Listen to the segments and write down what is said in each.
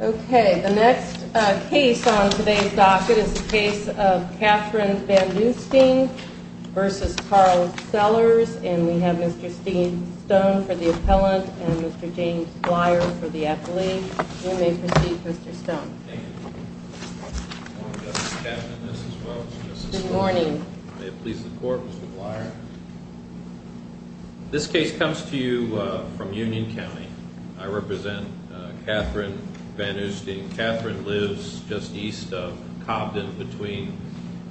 Okay, the next case on today's docket is the case of Kathryn Vanoosting v. Carl Sellars and we have Mr. Steve Stone for the appellant and Mr. James Blyer for the athlete. You may proceed Mr. Stone. Thank you. Good morning. May it please the court, Mr. Blyer. This case comes to you from Union County. I represent Kathryn Vanoosting. Kathryn lives just east of Cobden between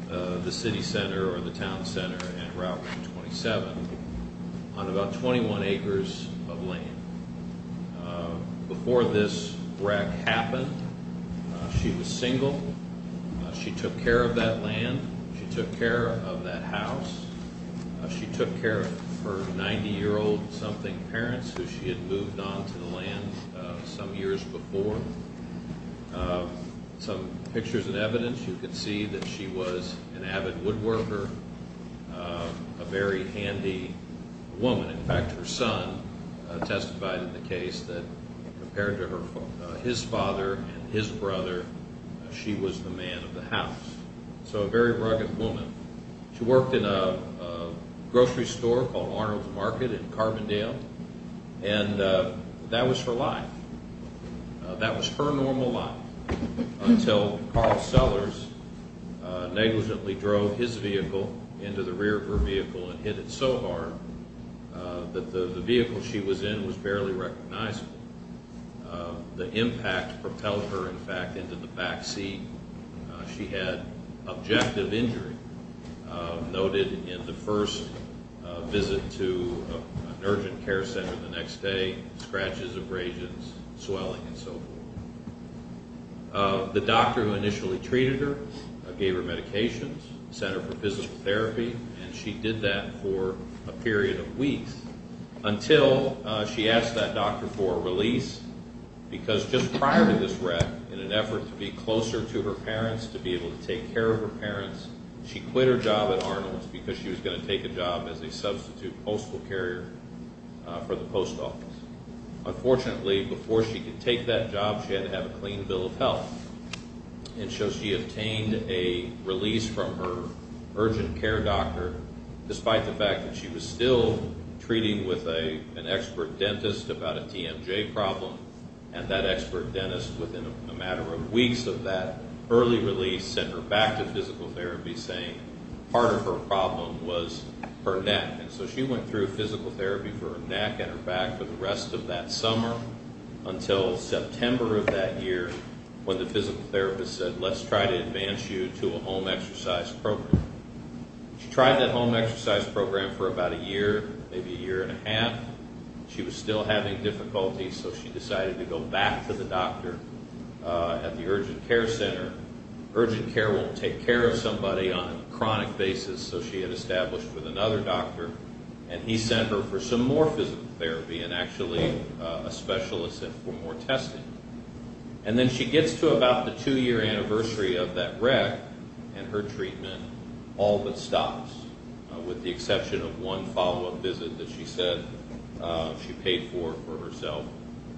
the city center or the town center and Route 127 on about 21 acres of land. Before this wreck happened, she was single. She took care of that land. She took care of that house. She took care of her 90-year-old something parents who she had moved on to the land some years before. Some pictures and evidence, you can see that she was an avid woodworker, a very handy woman. In fact, her son testified in the case that compared to his father and his brother, she was the man of the house. So a very rugged woman. She worked in a grocery store called Arnold's Market in Carbondale, and that was her life. That was her normal life until Carl Sellers negligently drove his vehicle into the rear of her vehicle and hit it so hard that the vehicle she was in was barely recognizable. The impact propelled her, in fact, into the back seat. She had objective injury noted in the first visit to an urgent care center the next day, scratches, abrasions, swelling, and so forth. The doctor who initially treated her gave her medications, sent her for physical therapy, and she did that for a period of weeks until she asked that doctor for a release because just prior to this wreck, in an effort to be closer to her parents, to be able to take care of her parents, she quit her job at Arnold's because she was going to take a job as a substitute postal carrier for the post office. Unfortunately, before she could take that job, she had to have a clean bill of health, and so she obtained a release from her urgent care doctor, despite the fact that she was still treating with an expert dentist about a TMJ problem, and that expert dentist, within a matter of weeks of that early release, sent her back to physical therapy saying part of her problem was her neck, and so she went through physical therapy for her neck and her back for the rest of that summer until September of that year when the physical therapist said, let's try to advance you to a home exercise program. She tried that home exercise program for about a year, maybe a year and a half. She was still having difficulties, so she decided to go back to the doctor at the urgent care center. Urgent care won't take care of somebody on a chronic basis, so she had established with another doctor, and he sent her for some more physical therapy and actually a specialist for more testing. And then she gets to about the two-year anniversary of that wreck, and her treatment all but stops, with the exception of one follow-up visit that she said she paid for for herself,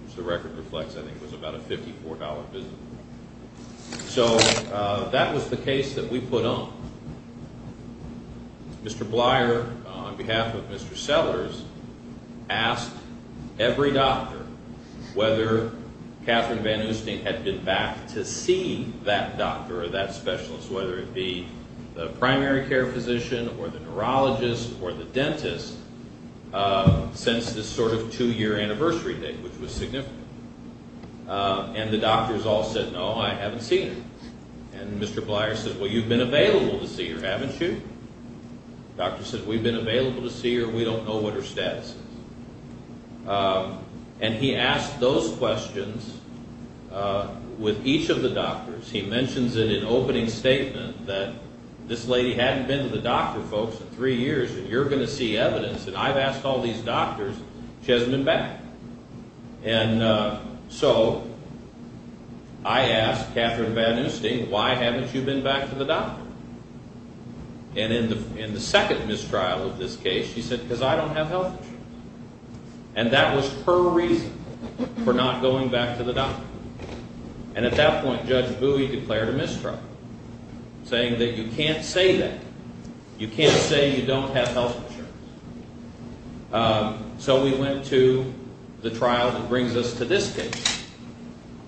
which the record reflects I think was about a $54 visit. So that was the case that we put on. Mr. Blyer, on behalf of Mr. Sellers, asked every doctor whether Katherine Van Oosting had been back to see that doctor or that specialist, whether it be the primary care physician or the neurologist or the dentist since this sort of two-year anniversary date, which was significant. And the doctors all said, no, I haven't seen her. And Mr. Blyer said, well, you've been available to see her, haven't you? The doctor said, we've been available to see her. We don't know what her status is. And he asked those questions with each of the doctors. He mentions it in an opening statement that this lady hadn't been to the doctor, folks, in three years, and you're going to see evidence, and I've asked all these doctors. She hasn't been back. And so I asked Katherine Van Oosting, why haven't you been back to the doctor? And in the second mistrial of this case, she said, because I don't have health insurance. And that was her reason for not going back to the doctor. And at that point, Judge Bowie declared a mistrial, saying that you can't say that. You can't say you don't have health insurance. So we went to the trial that brings us to this case.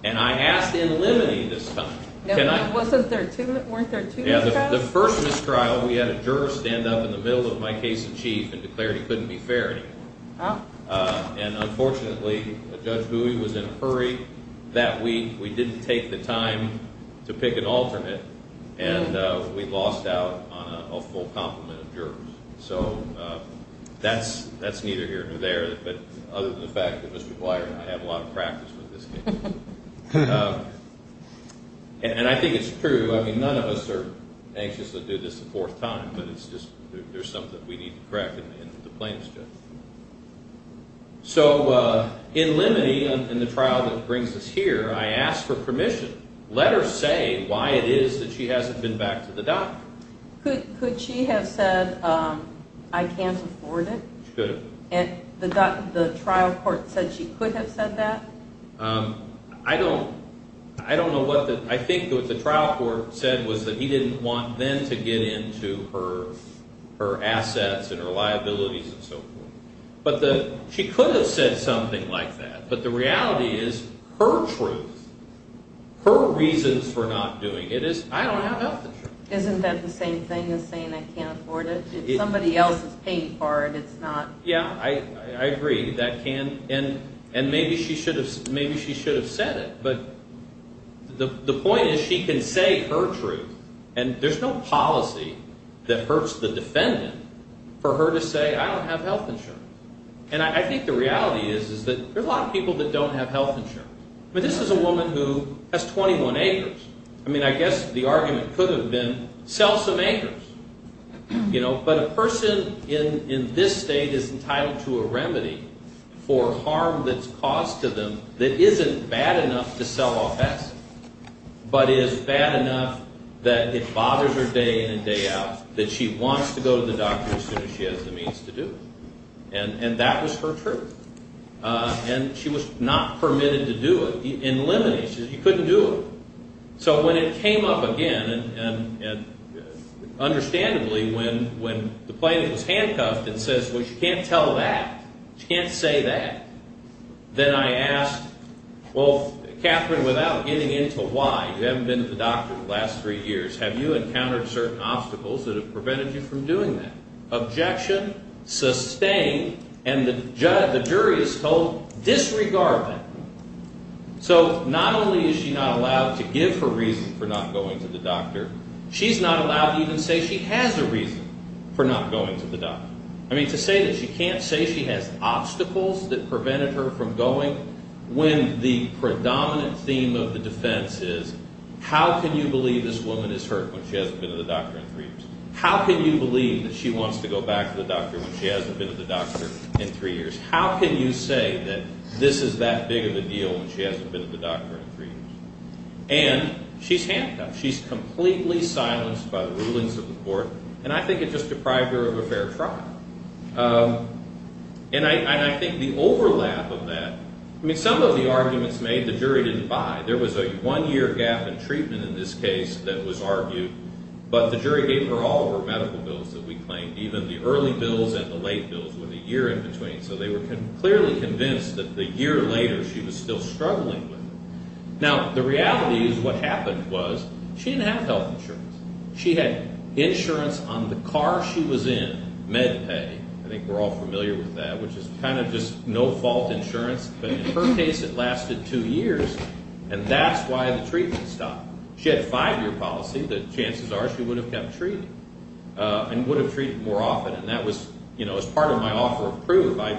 And I asked in limine this time. Weren't there two mistrials? The first mistrial, we had a juror stand up in the middle of my case in chief and declare he couldn't be fair anymore. And unfortunately, Judge Bowie was in a hurry that week. We didn't take the time to pick an alternate, and we lost out on a full complement of jurors. So that's neither here nor there. But other than the fact that Mr. Dwyer and I have a lot of practice with this case. And I think it's true. I mean, none of us are anxious to do this a fourth time, but it's just there's something we need to correct in the plaintiff's case. So in limine, in the trial that brings us here, I asked for permission. Let her say why it is that she hasn't been back to the doctor. Could she have said, I can't afford it? She could have. And the trial court said she could have said that? I don't know what the, I think what the trial court said was that he didn't want them to get into her assets and her liabilities and so forth. But she could have said something like that. But the reality is, her truth, her reasons for not doing it is, I don't have the truth. Isn't that the same thing as saying I can't afford it? If somebody else is paying for it, it's not. Yeah, I agree. And maybe she should have said it. But the point is, she can say her truth. And there's no policy that hurts the defendant for her to say, I don't have health insurance. And I think the reality is that there are a lot of people that don't have health insurance. But this is a woman who has 21 acres. I mean, I guess the argument could have been sell some acres. But a person in this state is entitled to a remedy for harm that's caused to them that isn't bad enough to sell off assets, but is bad enough that it bothers her day in and day out that she wants to go to the doctor as soon as she has the means to do it. And that was her truth. And she was not permitted to do it. She couldn't do it. So when it came up again, and understandably, when the plaintiff was handcuffed and says, well, you can't tell that. You can't say that. Then I asked, well, Catherine, without getting into why, you haven't been to the doctor in the last three years. Have you encountered certain obstacles that have prevented you from doing that? Objection sustained, and the jury is told disregard that. So not only is she not allowed to give her reason for not going to the doctor, she's not allowed to even say she has a reason for not going to the doctor. I mean, to say that she can't say she has obstacles that prevented her from going when the predominant theme of the defense is, how can you believe this woman is hurt when she hasn't been to the doctor in three years? How can you believe that she wants to go back to the doctor when she hasn't been to the doctor in three years? How can you say that this is that big of a deal when she hasn't been to the doctor in three years? And she's handcuffed. She's completely silenced by the rulings of the court, and I think it just deprived her of a fair trial. And I think the overlap of that, I mean, some of the arguments made, the jury didn't buy. There was a one-year gap in treatment in this case that was argued. But the jury gave her all of her medical bills that we claimed, even the early bills and the late bills, with a year in between. So they were clearly convinced that the year later she was still struggling with it. Now, the reality is what happened was she didn't have health insurance. She had insurance on the car she was in, MedPay. I think we're all familiar with that, which is kind of just no-fault insurance. But in her case, it lasted two years, and that's why the treatment stopped. She had a five-year policy that chances are she would have kept treating and would have treated more often. And that was part of my offer of proof. I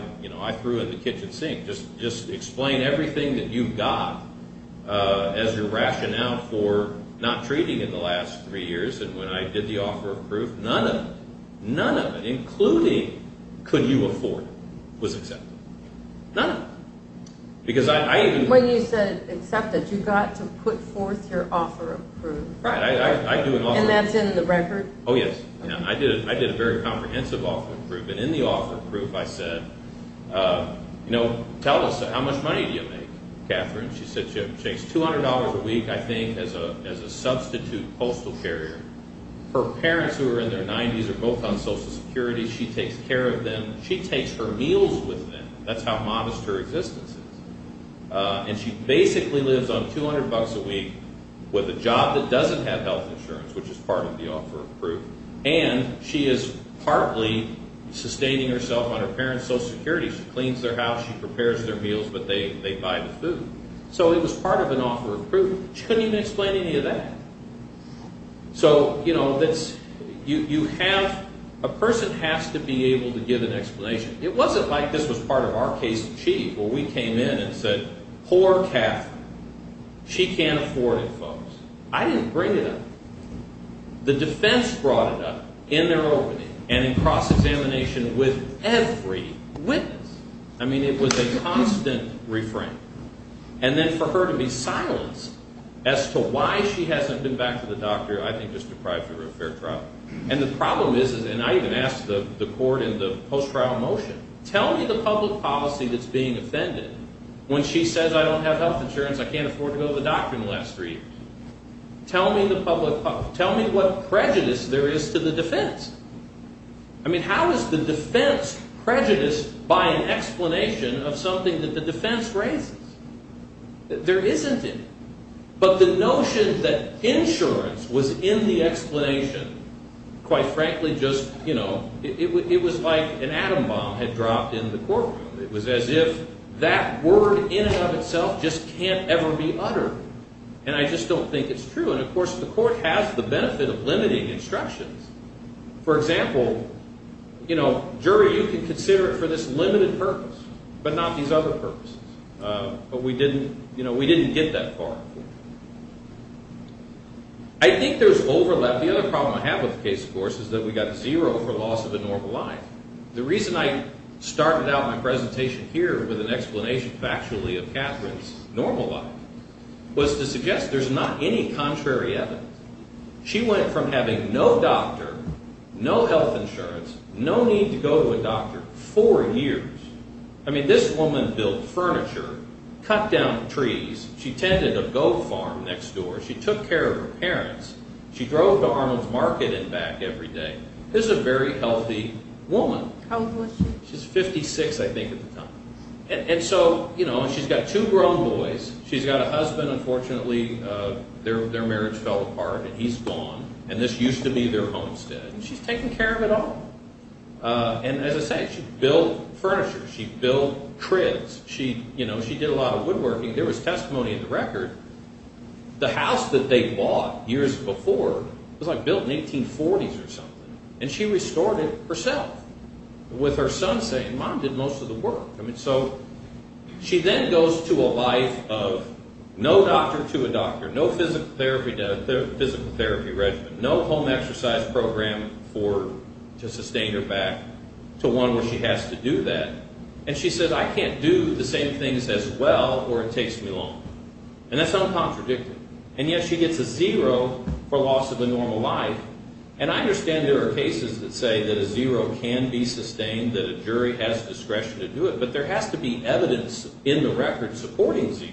threw her in the kitchen sink. Just explain everything that you've got as your rationale for not treating in the last three years. And when I did the offer of proof, none of it, none of it, including could you afford it, was accepted. None of it. When you said accepted, you got to put forth your offer of proof. Right. And that's in the record? Oh, yes. I did a very comprehensive offer of proof. And in the offer of proof, I said, you know, tell us, how much money do you make, Catherine? She said she makes $200 a week, I think, as a substitute postal carrier. Her parents, who are in their 90s, are both on Social Security. She takes care of them. She takes her meals with them. That's how modest her existence is. And she basically lives on $200 a week with a job that doesn't have health insurance, which is part of the offer of proof. And she is partly sustaining herself on her parents' Social Security. She cleans their house. She prepares their meals. But they buy the food. So it was part of an offer of proof. She couldn't even explain any of that. So, you know, you have, a person has to be able to give an explanation. It wasn't like this was part of our case in chief, where we came in and said, poor Catherine. She can't afford it, folks. I didn't bring it up. The defense brought it up in their opening and in cross-examination with every witness. I mean, it was a constant refrain. And then for her to be silenced as to why she hasn't been back to the doctor, I think it's deprived her of a fair trial. And the problem is, and I even asked the court in the post-trial motion, tell me the public policy that's being offended when she says, I don't have health insurance, I can't afford to go to the doctor in the last three years. Tell me what prejudice there is to the defense. I mean, how is the defense prejudiced by an explanation of something that the defense raises? There isn't any. But the notion that insurance was in the explanation, quite frankly, just, you know, it was like an atom bomb had dropped in the courtroom. It was as if that word in and of itself just can't ever be uttered. And I just don't think it's true. And, of course, the court has the benefit of limiting instructions. For example, you know, jury, you can consider it for this limited purpose, but not these other purposes. But we didn't, you know, we didn't get that far. I think there's overlap. The other problem I have with the case, of course, is that we got zero for loss of a normal life. The reason I started out my presentation here with an explanation factually of Catherine's normal life was to suggest there's not any contrary evidence. She went from having no doctor, no health insurance, no need to go to a doctor, four years. I mean, this woman built furniture, cut down trees. She tended a goat farm next door. She took care of her parents. She drove to Arnold's Market and back every day. This is a very healthy woman. How old was she? She was 56, I think, at the time. And so, you know, she's got two grown boys. She's got a husband. Unfortunately, their marriage fell apart, and he's gone. And this used to be their homestead. And she's taking care of it all. And as I say, she built furniture. She built cribs. She did a lot of woodworking. There was testimony in the record. The house that they bought years before was, like, built in the 1840s or something. And she restored it herself with her son saying, Mom did most of the work. I mean, so she then goes to a life of no doctor to a doctor, no physical therapy regimen, no home exercise program to sustain her back to one where she has to do that. And she said, I can't do the same things as well or it takes me long. And that's uncontradictory. And yet she gets a zero for loss of a normal life. And I understand there are cases that say that a zero can be sustained, that a jury has discretion to do it. But there has to be evidence in the record supporting zero.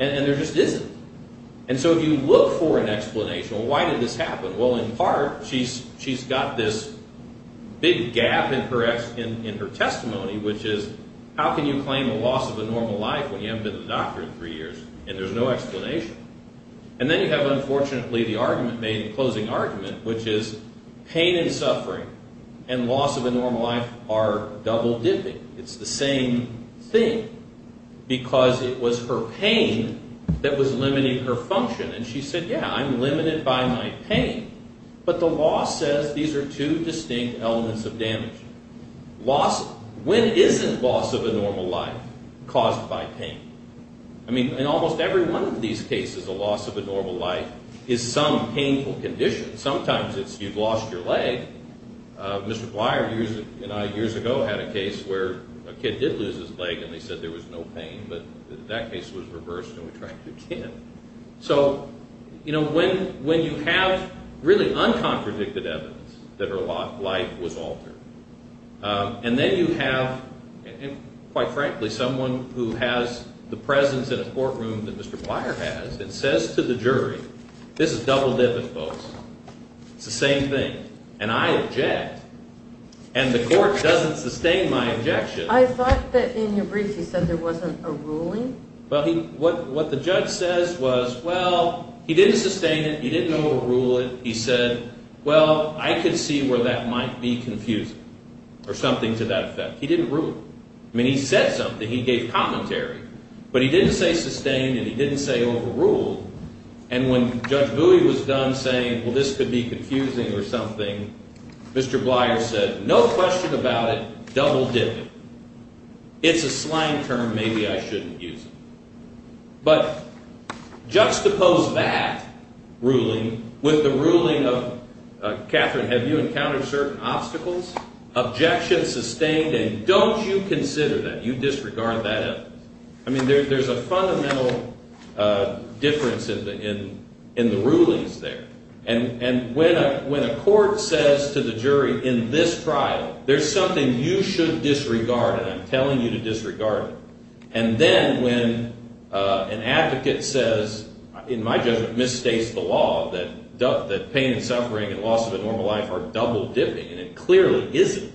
And there just isn't. And so if you look for an explanation, well, why did this happen? Well, in part, she's got this big gap in her testimony, which is, how can you claim a loss of a normal life when you haven't been to the doctor in three years and there's no explanation? And then you have, unfortunately, the argument made, the closing argument, which is pain and suffering and loss of a normal life are double-dipping. It's the same thing because it was her pain that was limiting her function. And she said, yeah, I'm limited by my pain. But the law says these are two distinct elements of damage. When isn't loss of a normal life caused by pain? I mean, in almost every one of these cases, a loss of a normal life is some painful condition, and sometimes it's you've lost your leg. Mr. Blyer, you know, years ago had a case where a kid did lose his leg and they said there was no pain, but that case was reversed and we tried again. So, you know, when you have really uncontradicted evidence that her life was altered, and then you have, quite frankly, someone who has the presence in a courtroom that Mr. Blyer has that says to the jury, this is double-dipping, folks. It's the same thing. And I object. And the court doesn't sustain my objection. I thought that in your brief you said there wasn't a ruling? Well, what the judge says was, well, he didn't sustain it. He didn't overrule it. He said, well, I could see where that might be confusing or something to that effect. He didn't rule it. I mean, he said something. He gave commentary, but he didn't say sustained and he didn't say overruled. And when Judge Bowie was done saying, well, this could be confusing or something, Mr. Blyer said, no question about it, double-dipping. It's a slang term. Maybe I shouldn't use it. But juxtapose that ruling with the ruling of, Catherine, have you encountered certain obstacles? Objection sustained, and don't you consider that? You disregard that evidence. I mean, there's a fundamental difference in the rulings there. And when a court says to the jury in this trial, there's something you should disregard, and I'm telling you to disregard it. And then when an advocate says, in my judgment, misstates the law, that pain and suffering and loss of a normal life are double-dipping, and it clearly isn't,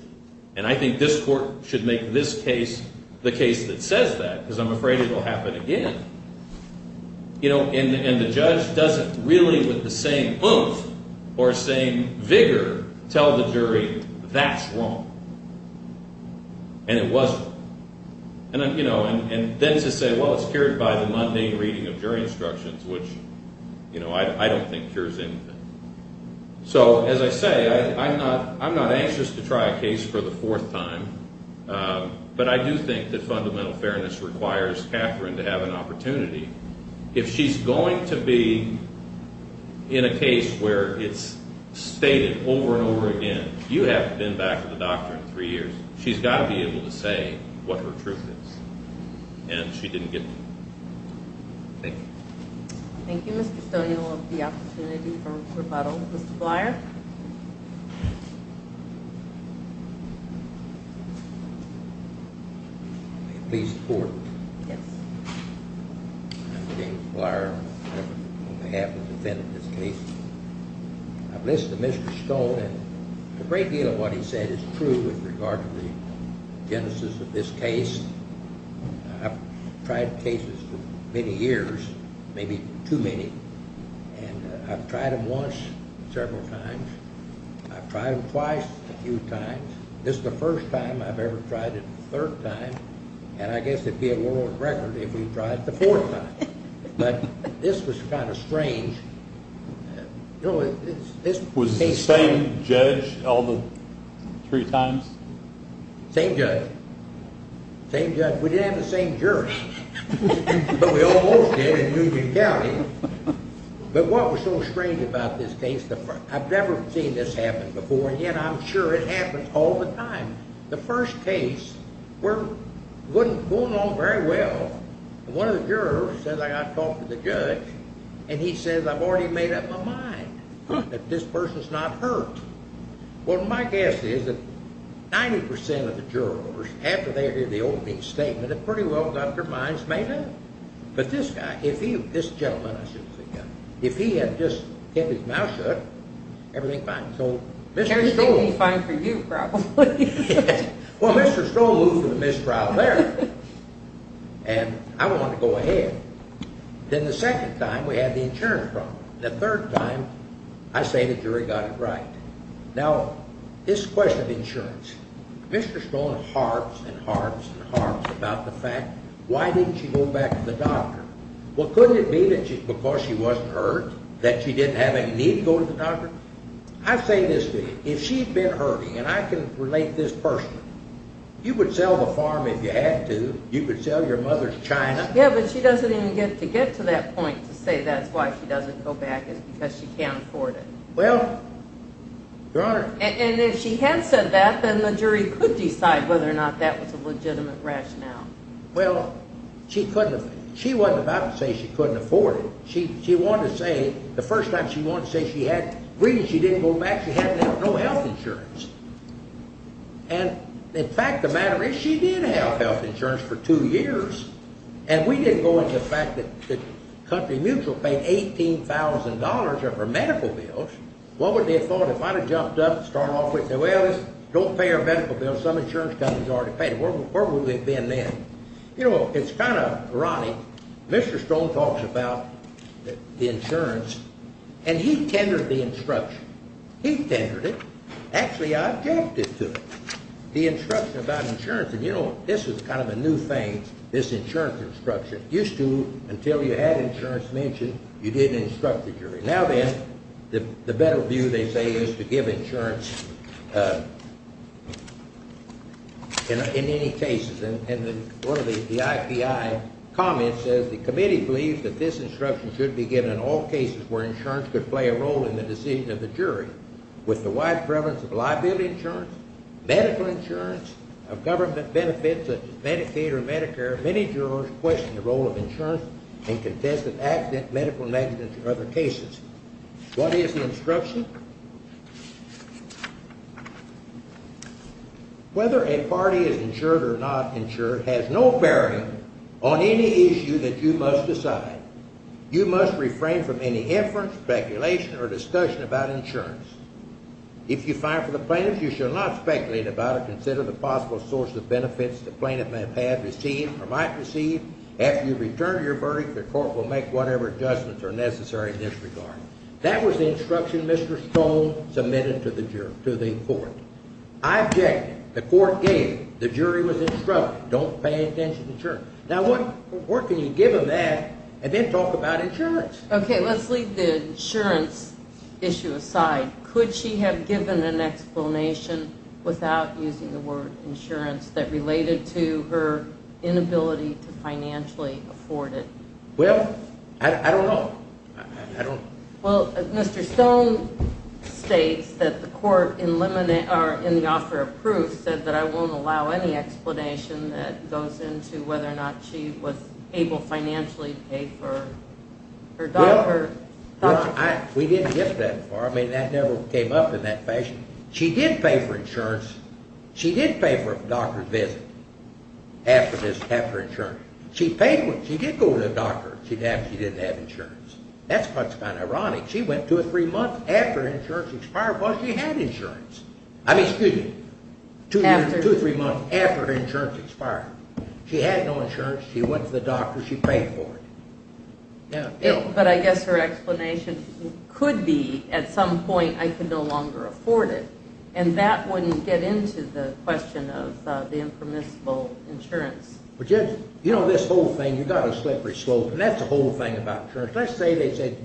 and I think this court should make this case the case that says that because I'm afraid it will happen again. And the judge doesn't really with the same oomph or same vigor tell the jury that's wrong. And it wasn't. And then to say, well, it's cured by the mundane reading of jury instructions, which I don't think cures anything. So, as I say, I'm not anxious to try a case for the fourth time, but I do think that fundamental fairness requires Catherine to have an opportunity. If she's going to be in a case where it's stated over and over again, you haven't been back to the doctor in three years, she's got to be able to say what her truth is. Thank you. Thank you, Mr. Stone. You'll have the opportunity for rebuttal. Mr. Blyer? May it please the court? Yes. I'm James Blyer, on behalf of the defendant of this case. I've listened to Mr. Stone, and a great deal of what he said is true with regard to the genesis of this case. I've tried cases for many years, maybe too many, and I've tried them once, several times. I've tried them twice, a few times. This is the first time I've ever tried it a third time, and I guess it'd be a world record if we tried it the fourth time. But this was kind of strange. Was it the same judge all the three times? Same judge. Same judge. We didn't have the same jurors, but we almost did in Eugene County. But what was so strange about this case, I've never seen this happen before, and yet I'm sure it happens all the time. The first case, we're going along very well, and one of the jurors says I got to talk to the judge, and he says I've already made up my mind that this person's not hurt. Well, my guess is that 90% of the jurors, after they hear the opening statement, have pretty well got their minds made up. But this guy, this gentleman, I should say, if he had just kept his mouth shut, everything would be fine. Everything would be fine for you, probably. Well, Mr. Stroll moved to the mistrial there, and I wanted to go ahead. Then the second time, we had the insurance problem. The third time, I say the jury got it right. Now, this question of insurance, Mr. Stroll harps and harps and harps about the fact, why didn't she go back to the doctor? Well, couldn't it be because she wasn't hurt, that she didn't have any need to go to the doctor? I say this to you, if she'd been hurting, and I can relate this personally, you would sell the farm if you had to. You could sell your mother's china. Yeah, but she doesn't even get to get to that point to say that's why she doesn't go back, is because she can't afford it. Well, Your Honor. And if she had said that, then the jury could decide whether or not that was a legitimate rationale. Well, she wasn't about to say she couldn't afford it. She wanted to say, the first time she wanted to say she had agreed and she didn't go back, she had no health insurance. And, in fact, the matter is she did have health insurance for two years, and we didn't go into the fact that Country Mutual paid $18,000 of her medical bills. What would they have thought if I had jumped up and started off with, well, don't pay her medical bills, some insurance companies already paid it. Where would we have been then? You know, it's kind of ironic. Mr. Stroll talks about the insurance, and he tendered the instruction. He tendered it. Actually, I objected to it, the instruction about insurance. And, you know, this was kind of a new thing, this insurance instruction. It used to, until you had insurance mentioned, you didn't instruct the jury. Now then, the better view, they say, is to give insurance in any cases. And one of the IPI comments says, the committee believes that this instruction should be given in all cases where insurance could play a role in the decision of the jury. With the wide prevalence of liability insurance, medical insurance, of government benefits such as Medicaid or Medicare, many jurors question the role of insurance in contested accidents, medical negligence, or other cases. What is the instruction? Whether a party is insured or not insured has no bearing on any issue that you must decide. You must refrain from any inference, speculation, or discussion about insurance. If you file for the plaintiff, you shall not speculate about or consider the possible source of benefits the plaintiff may have received or might receive after you return to your verdict. The court will make whatever adjustments are necessary in this regard. That was the instruction Mr. Stroll submitted to the court. I objected. The court gave it. The jury was instructed. Don't pay attention to insurance. Now what can you give them that and then talk about insurance? Okay, let's leave the insurance issue aside. Could she have given an explanation without using the word insurance that related to her inability to financially afford it? Well, I don't know. Well, Mr. Stone states that the court in the offer of proof has said that I won't allow any explanation that goes into whether or not she was able financially to pay for her doctor. We didn't get that far. I mean, that never came up in that fashion. She did pay for insurance. She did pay for a doctor's visit after insurance. She did go to the doctor after she didn't have insurance. That's what's kind of ironic. She went two or three months after her insurance expired because she had insurance. I mean, excuse me, two or three months after her insurance expired. She had no insurance. She went to the doctor. She paid for it. But I guess her explanation could be at some point I could no longer afford it, and that wouldn't get into the question of the impermissible insurance. But, you know, this whole thing, you've got a slippery slope, and that's the whole thing about insurance. Let's say they said,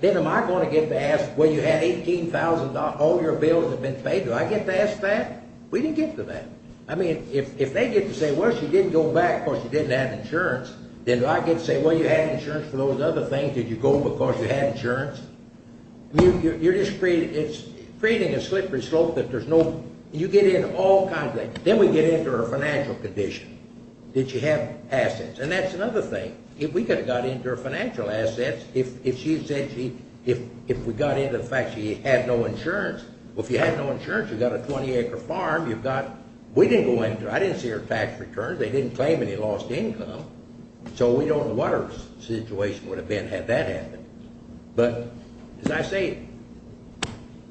then am I going to get to ask, well, you had $18,000. All your bills have been paid. Do I get to ask that? We didn't get to that. I mean, if they get to say, well, she didn't go back because she didn't have insurance, then do I get to say, well, you had insurance for those other things. Did you go because you had insurance? You're just creating a slippery slope that there's no – you get into all kinds of things. Then we get into her financial condition. Did she have assets? And that's another thing. If we could have got into her financial assets, if she said she – if we got into the fact she had no insurance, well, if you had no insurance, you've got a 20-acre farm. You've got – we didn't go into it. I didn't see her tax returns. They didn't claim any lost income. So we don't know what her situation would have been had that happened. But, as I say,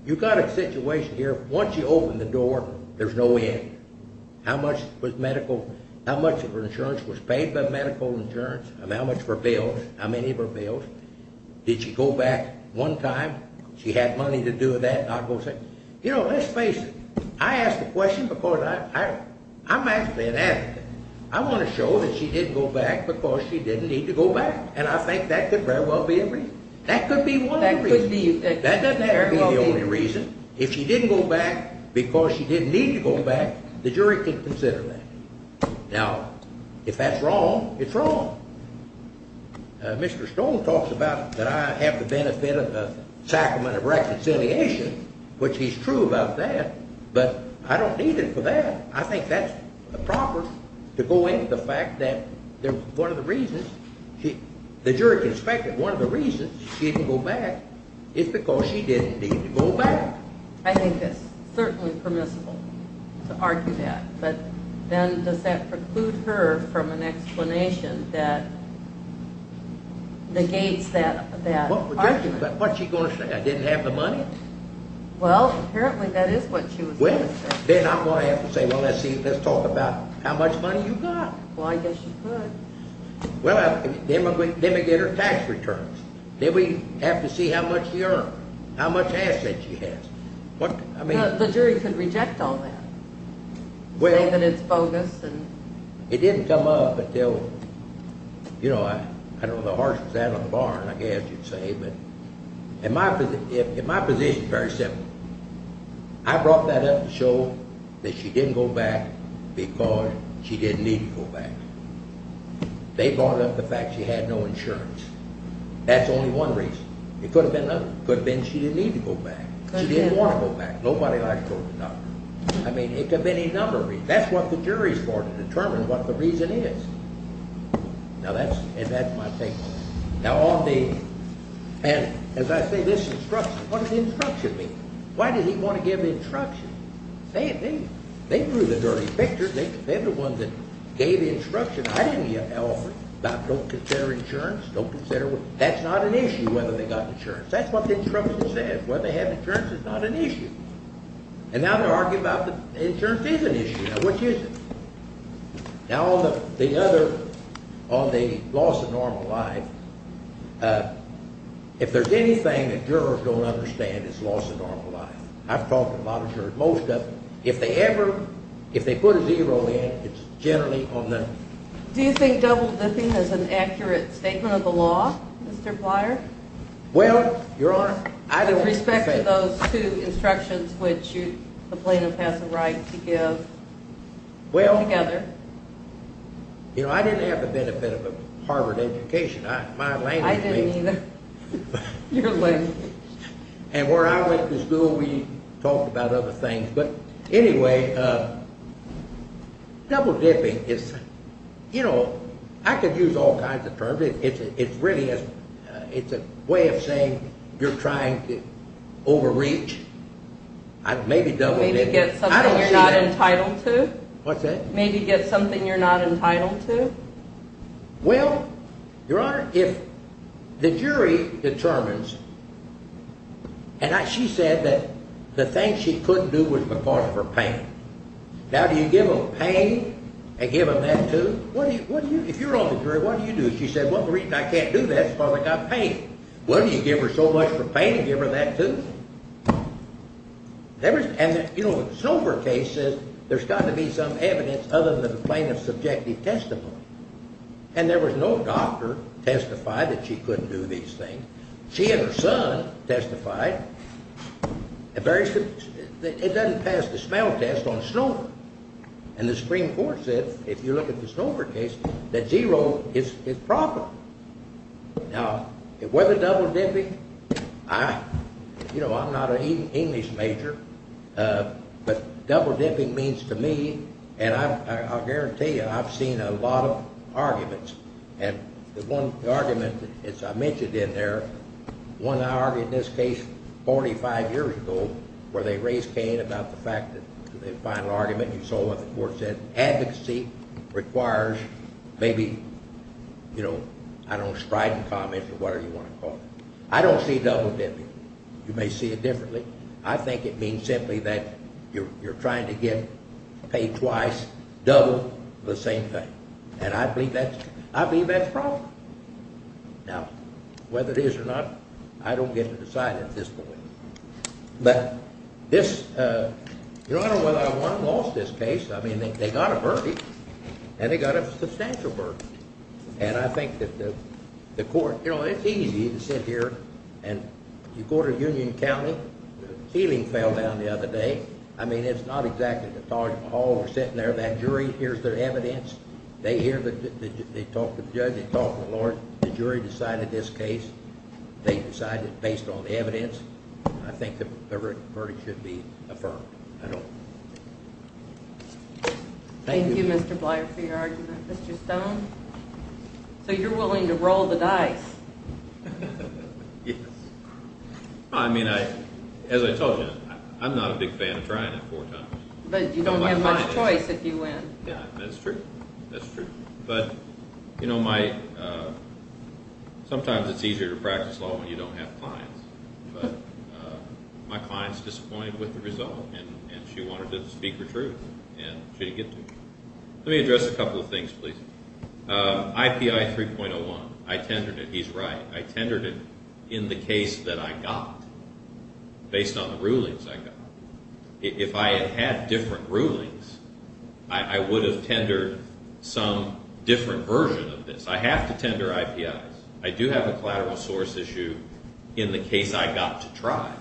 you've got a situation here. Once you open the door, there's no end. How much was medical – how much of her insurance was paid by medical insurance? How much of her bills? How many of her bills? Did she go back one time? She had money to do with that. You know, let's face it. I ask the question because I'm actually an advocate. I want to show that she didn't go back because she didn't need to go back, and I think that could very well be a reason. That could be one reason. That doesn't have to be the only reason. If she didn't go back because she didn't need to go back, the jury could consider that. Now, if that's wrong, it's wrong. Mr. Stone talks about that I have the benefit of a sacrament of reconciliation, which he's true about that, but I don't need it for that. I think that's proper to go into the fact that one of the reasons she – the jury can suspect that one of the reasons she didn't go back is because she didn't need to go back. I think it's certainly permissible to argue that. But then does that preclude her from an explanation that negates that argument? What's she going to say, I didn't have the money? Well, apparently that is what she was going to say. Then I'm going to have to say, well, let's talk about how much money you got. Well, I guess you could. Well, then we get her tax returns. Then we have to see how much she earned, how much asset she has. The jury could reject all that. Say that it's bogus. It didn't come up until – I don't know how harsh it was out on the barn, I guess you'd say, but in my position it's very simple. I brought that up to show that she didn't go back because she didn't need to go back. They brought up the fact she had no insurance. That's only one reason. It could have been another. It could have been she didn't need to go back. She didn't want to go back. Nobody likes to go to the doctor. I mean, it could have been another reason. That's what the jury is for, to determine what the reason is. Now, that's my take on it. Now, as I say, this instruction, what did the instruction mean? Why did he want to give the instruction? They grew the dirty picture. They're the ones that gave the instruction. I didn't give an offer about don't consider insurance, don't consider – that's not an issue whether they got insurance. That's what the instruction said. Whether they have insurance is not an issue. And now they're arguing about the insurance is an issue. Now, what is it? Now, on the loss of normal life, if there's anything that jurors don't understand, it's loss of normal life. I've talked to a lot of jurors, most of them. If they put a zero in, it's generally on the – Do you think double dipping is an accurate statement of the law, Mr. Plyer? Well, Your Honor, I don't think so. With respect to those two instructions which the plaintiff has a right to give together. Well, you know, I didn't have the benefit of a Harvard education. My language – I didn't either. Your language. And where I went to school, we talked about other things. But anyway, double dipping is – you know, I could use all kinds of terms. It really is – it's a way of saying you're trying to overreach. Maybe double dipping. Maybe get something you're not entitled to. What's that? Maybe get something you're not entitled to. Well, Your Honor, if the jury determines – and she said that the thing she couldn't do was because of her pain. Now, do you give them pain and give them that too? If you're on the jury, what do you do? She said, well, the reason I can't do that is because I've got pain. Well, do you give her so much for pain and give her that too? And, you know, the Snover case says there's got to be some evidence other than the plaintiff's subjective testimony. And there was no doctor testified that she couldn't do these things. She and her son testified. It doesn't pass the smell test on Snover. And the Supreme Court said, if you look at the Snover case, that zero is probable. Now, whether double dipping – you know, I'm not an English major, but double dipping means to me – and I'll guarantee you I've seen a lot of arguments. And the one argument, as I mentioned in there, one I argued in this case 45 years ago where they raised pain about the fact that the final argument, you saw what the court said, advocacy requires maybe, you know, I don't know, strident comments or whatever you want to call it. I don't see double dipping. You may see it differently. I think it means simply that you're trying to get paid twice double the same thing. And I believe that's probable. Now, whether it is or not, I don't get to decide at this point. But this – you know, I don't know whether I won or lost this case. I mean, they got a verdict, and they got a substantial verdict. And I think that the court – you know, it's easy to sit here and you go to Union County. The ceiling fell down the other day. I mean, it's not exactly the Taj Mahal. We're sitting there. That jury hears their evidence. They hear the – they talk to the judge. They talk to the lawyer. The jury decided this case. They decided it based on the evidence. I think the verdict should be affirmed. I hope. Thank you, Mr. Blyer, for your argument. Mr. Stone? So you're willing to roll the dice? Yes. I mean, as I told you, I'm not a big fan of trying it four times. But you don't have much choice if you win. Yeah, that's true. That's true. But, you know, my – sometimes it's easier to practice law when you don't have clients. But my client's disappointed with the result, and she wanted to speak her truth. And she didn't get to. Let me address a couple of things, please. IPI 3.01, I tendered it. He's right. I tendered it in the case that I got based on the rulings I got. If I had had different rulings, I would have tendered some different version of this. I have to tender IPIs. I do have a collateral source issue in the case I got to try.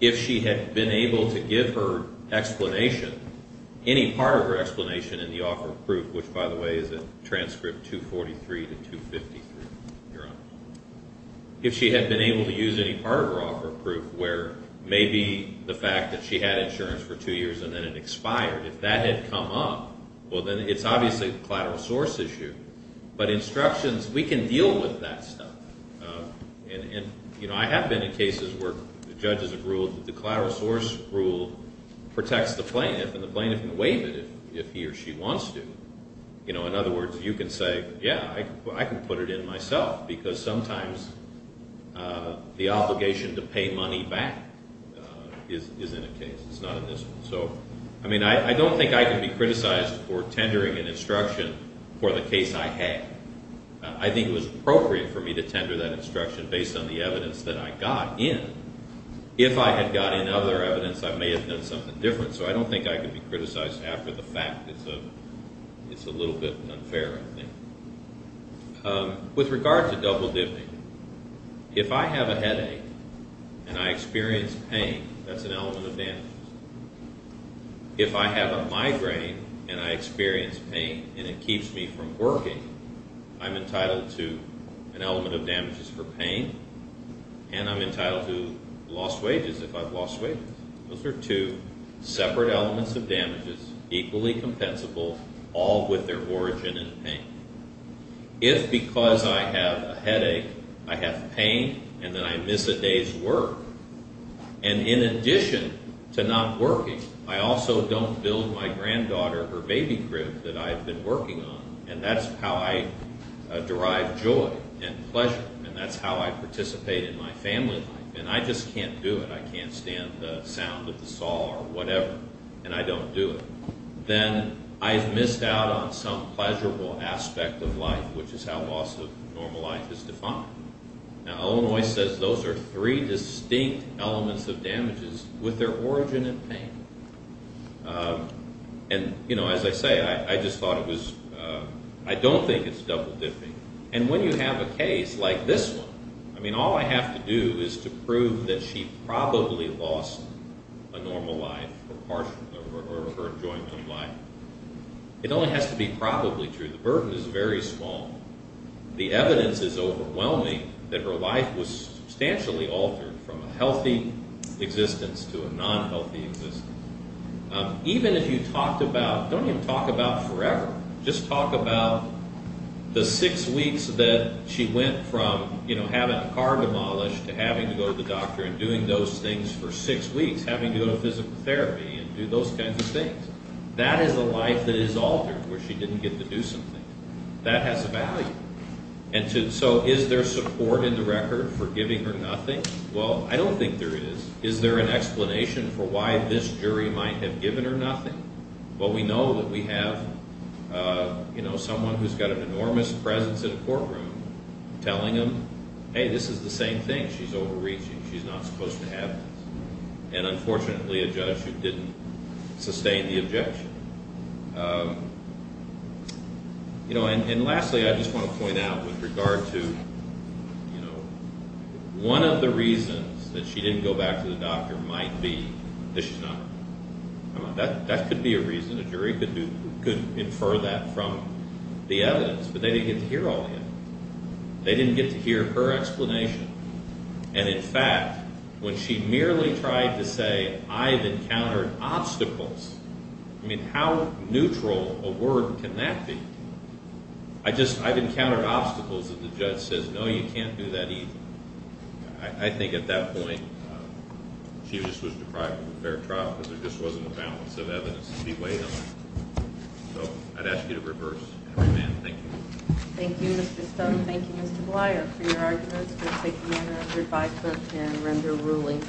If she had been able to give her explanation, any part of her explanation in the offer of proof, which, by the way, is in transcript 243 to 253, if you're honest, if she had been able to use any part of her offer of proof where maybe the fact that she had insurance for two years and then it expired, if that had come up, well, then it's obviously a collateral source issue. But instructions, we can deal with that stuff. And, you know, I have been in cases where judges have ruled that the collateral source rule protects the plaintiff and the plaintiff can waive it if he or she wants to. You know, in other words, you can say, yeah, I can put it in myself because sometimes the obligation to pay money back is in a case. It's not in this one. So, I mean, I don't think I can be criticized for tendering an instruction for the case I had. I think it was appropriate for me to tender that instruction based on the evidence that I got in. If I had got in other evidence, I may have done something different. So, I don't think I can be criticized after the fact. It's a little bit unfair, I think. With regard to double dipping, if I have a headache and I experience pain, that's an element of damages. If I have a migraine and I experience pain and it keeps me from working, I'm entitled to an element of damages for pain and I'm entitled to lost wages if I've lost wages. Those are two separate elements of damages, equally compensable, all with their origin in pain. If, because I have a headache, I have pain and then I miss a day's work, and in addition to not working, I also don't build my granddaughter or baby crib that I've been working on, and that's how I derive joy and pleasure, and that's how I participate in my family life, and I just can't do it. I can't stand the sound of the saw or whatever, and I don't do it. Then I've missed out on some pleasurable aspect of life, which is how loss of normal life is defined. Now, Illinois says those are three distinct elements of damages with their origin in pain. And, you know, as I say, I just thought it was, I don't think it's double dipping. And when you have a case like this one, I mean, all I have to do is to prove that she probably lost a normal life, or her enjoyment of life. It only has to be probably true. The burden is very small. The evidence is overwhelming that her life was substantially altered from a healthy existence to a non-healthy existence. Even if you talked about, don't even talk about forever, just talk about the six weeks that she went from, you know, having a car demolished to having to go to the doctor and doing those things for six weeks, having to go to physical therapy and do those kinds of things. That is a life that is altered where she didn't get to do something. That has a value. And so is there support in the record for giving her nothing? Well, I don't think there is. Is there an explanation for why this jury might have given her nothing? Well, we know that we have, you know, someone who's got an enormous presence in a courtroom telling them, hey, this is the same thing. She's overreaching. She's not supposed to have this. And unfortunately, a judge who didn't sustain the objection. You know, and lastly, I just want to point out with regard to, you know, one of the reasons that she didn't go back to the doctor might be that she's not. That could be a reason. A jury could infer that from the evidence, but they didn't get to hear all the evidence. They didn't get to hear her explanation. And in fact, when she merely tried to say, I've encountered obstacles, I mean, how neutral a word can that be? I just, I've encountered obstacles that the judge says, no, you can't do that either. I think at that point she just was deprived of a fair trial because there just wasn't a balance of evidence to be weighed on. So I'd ask you to reverse and remand. Thank you. Thank you, Mr. Stone. Thank you, Mr. Bleier, for your arguments. We'll take the honor of your five-minute and render ruling.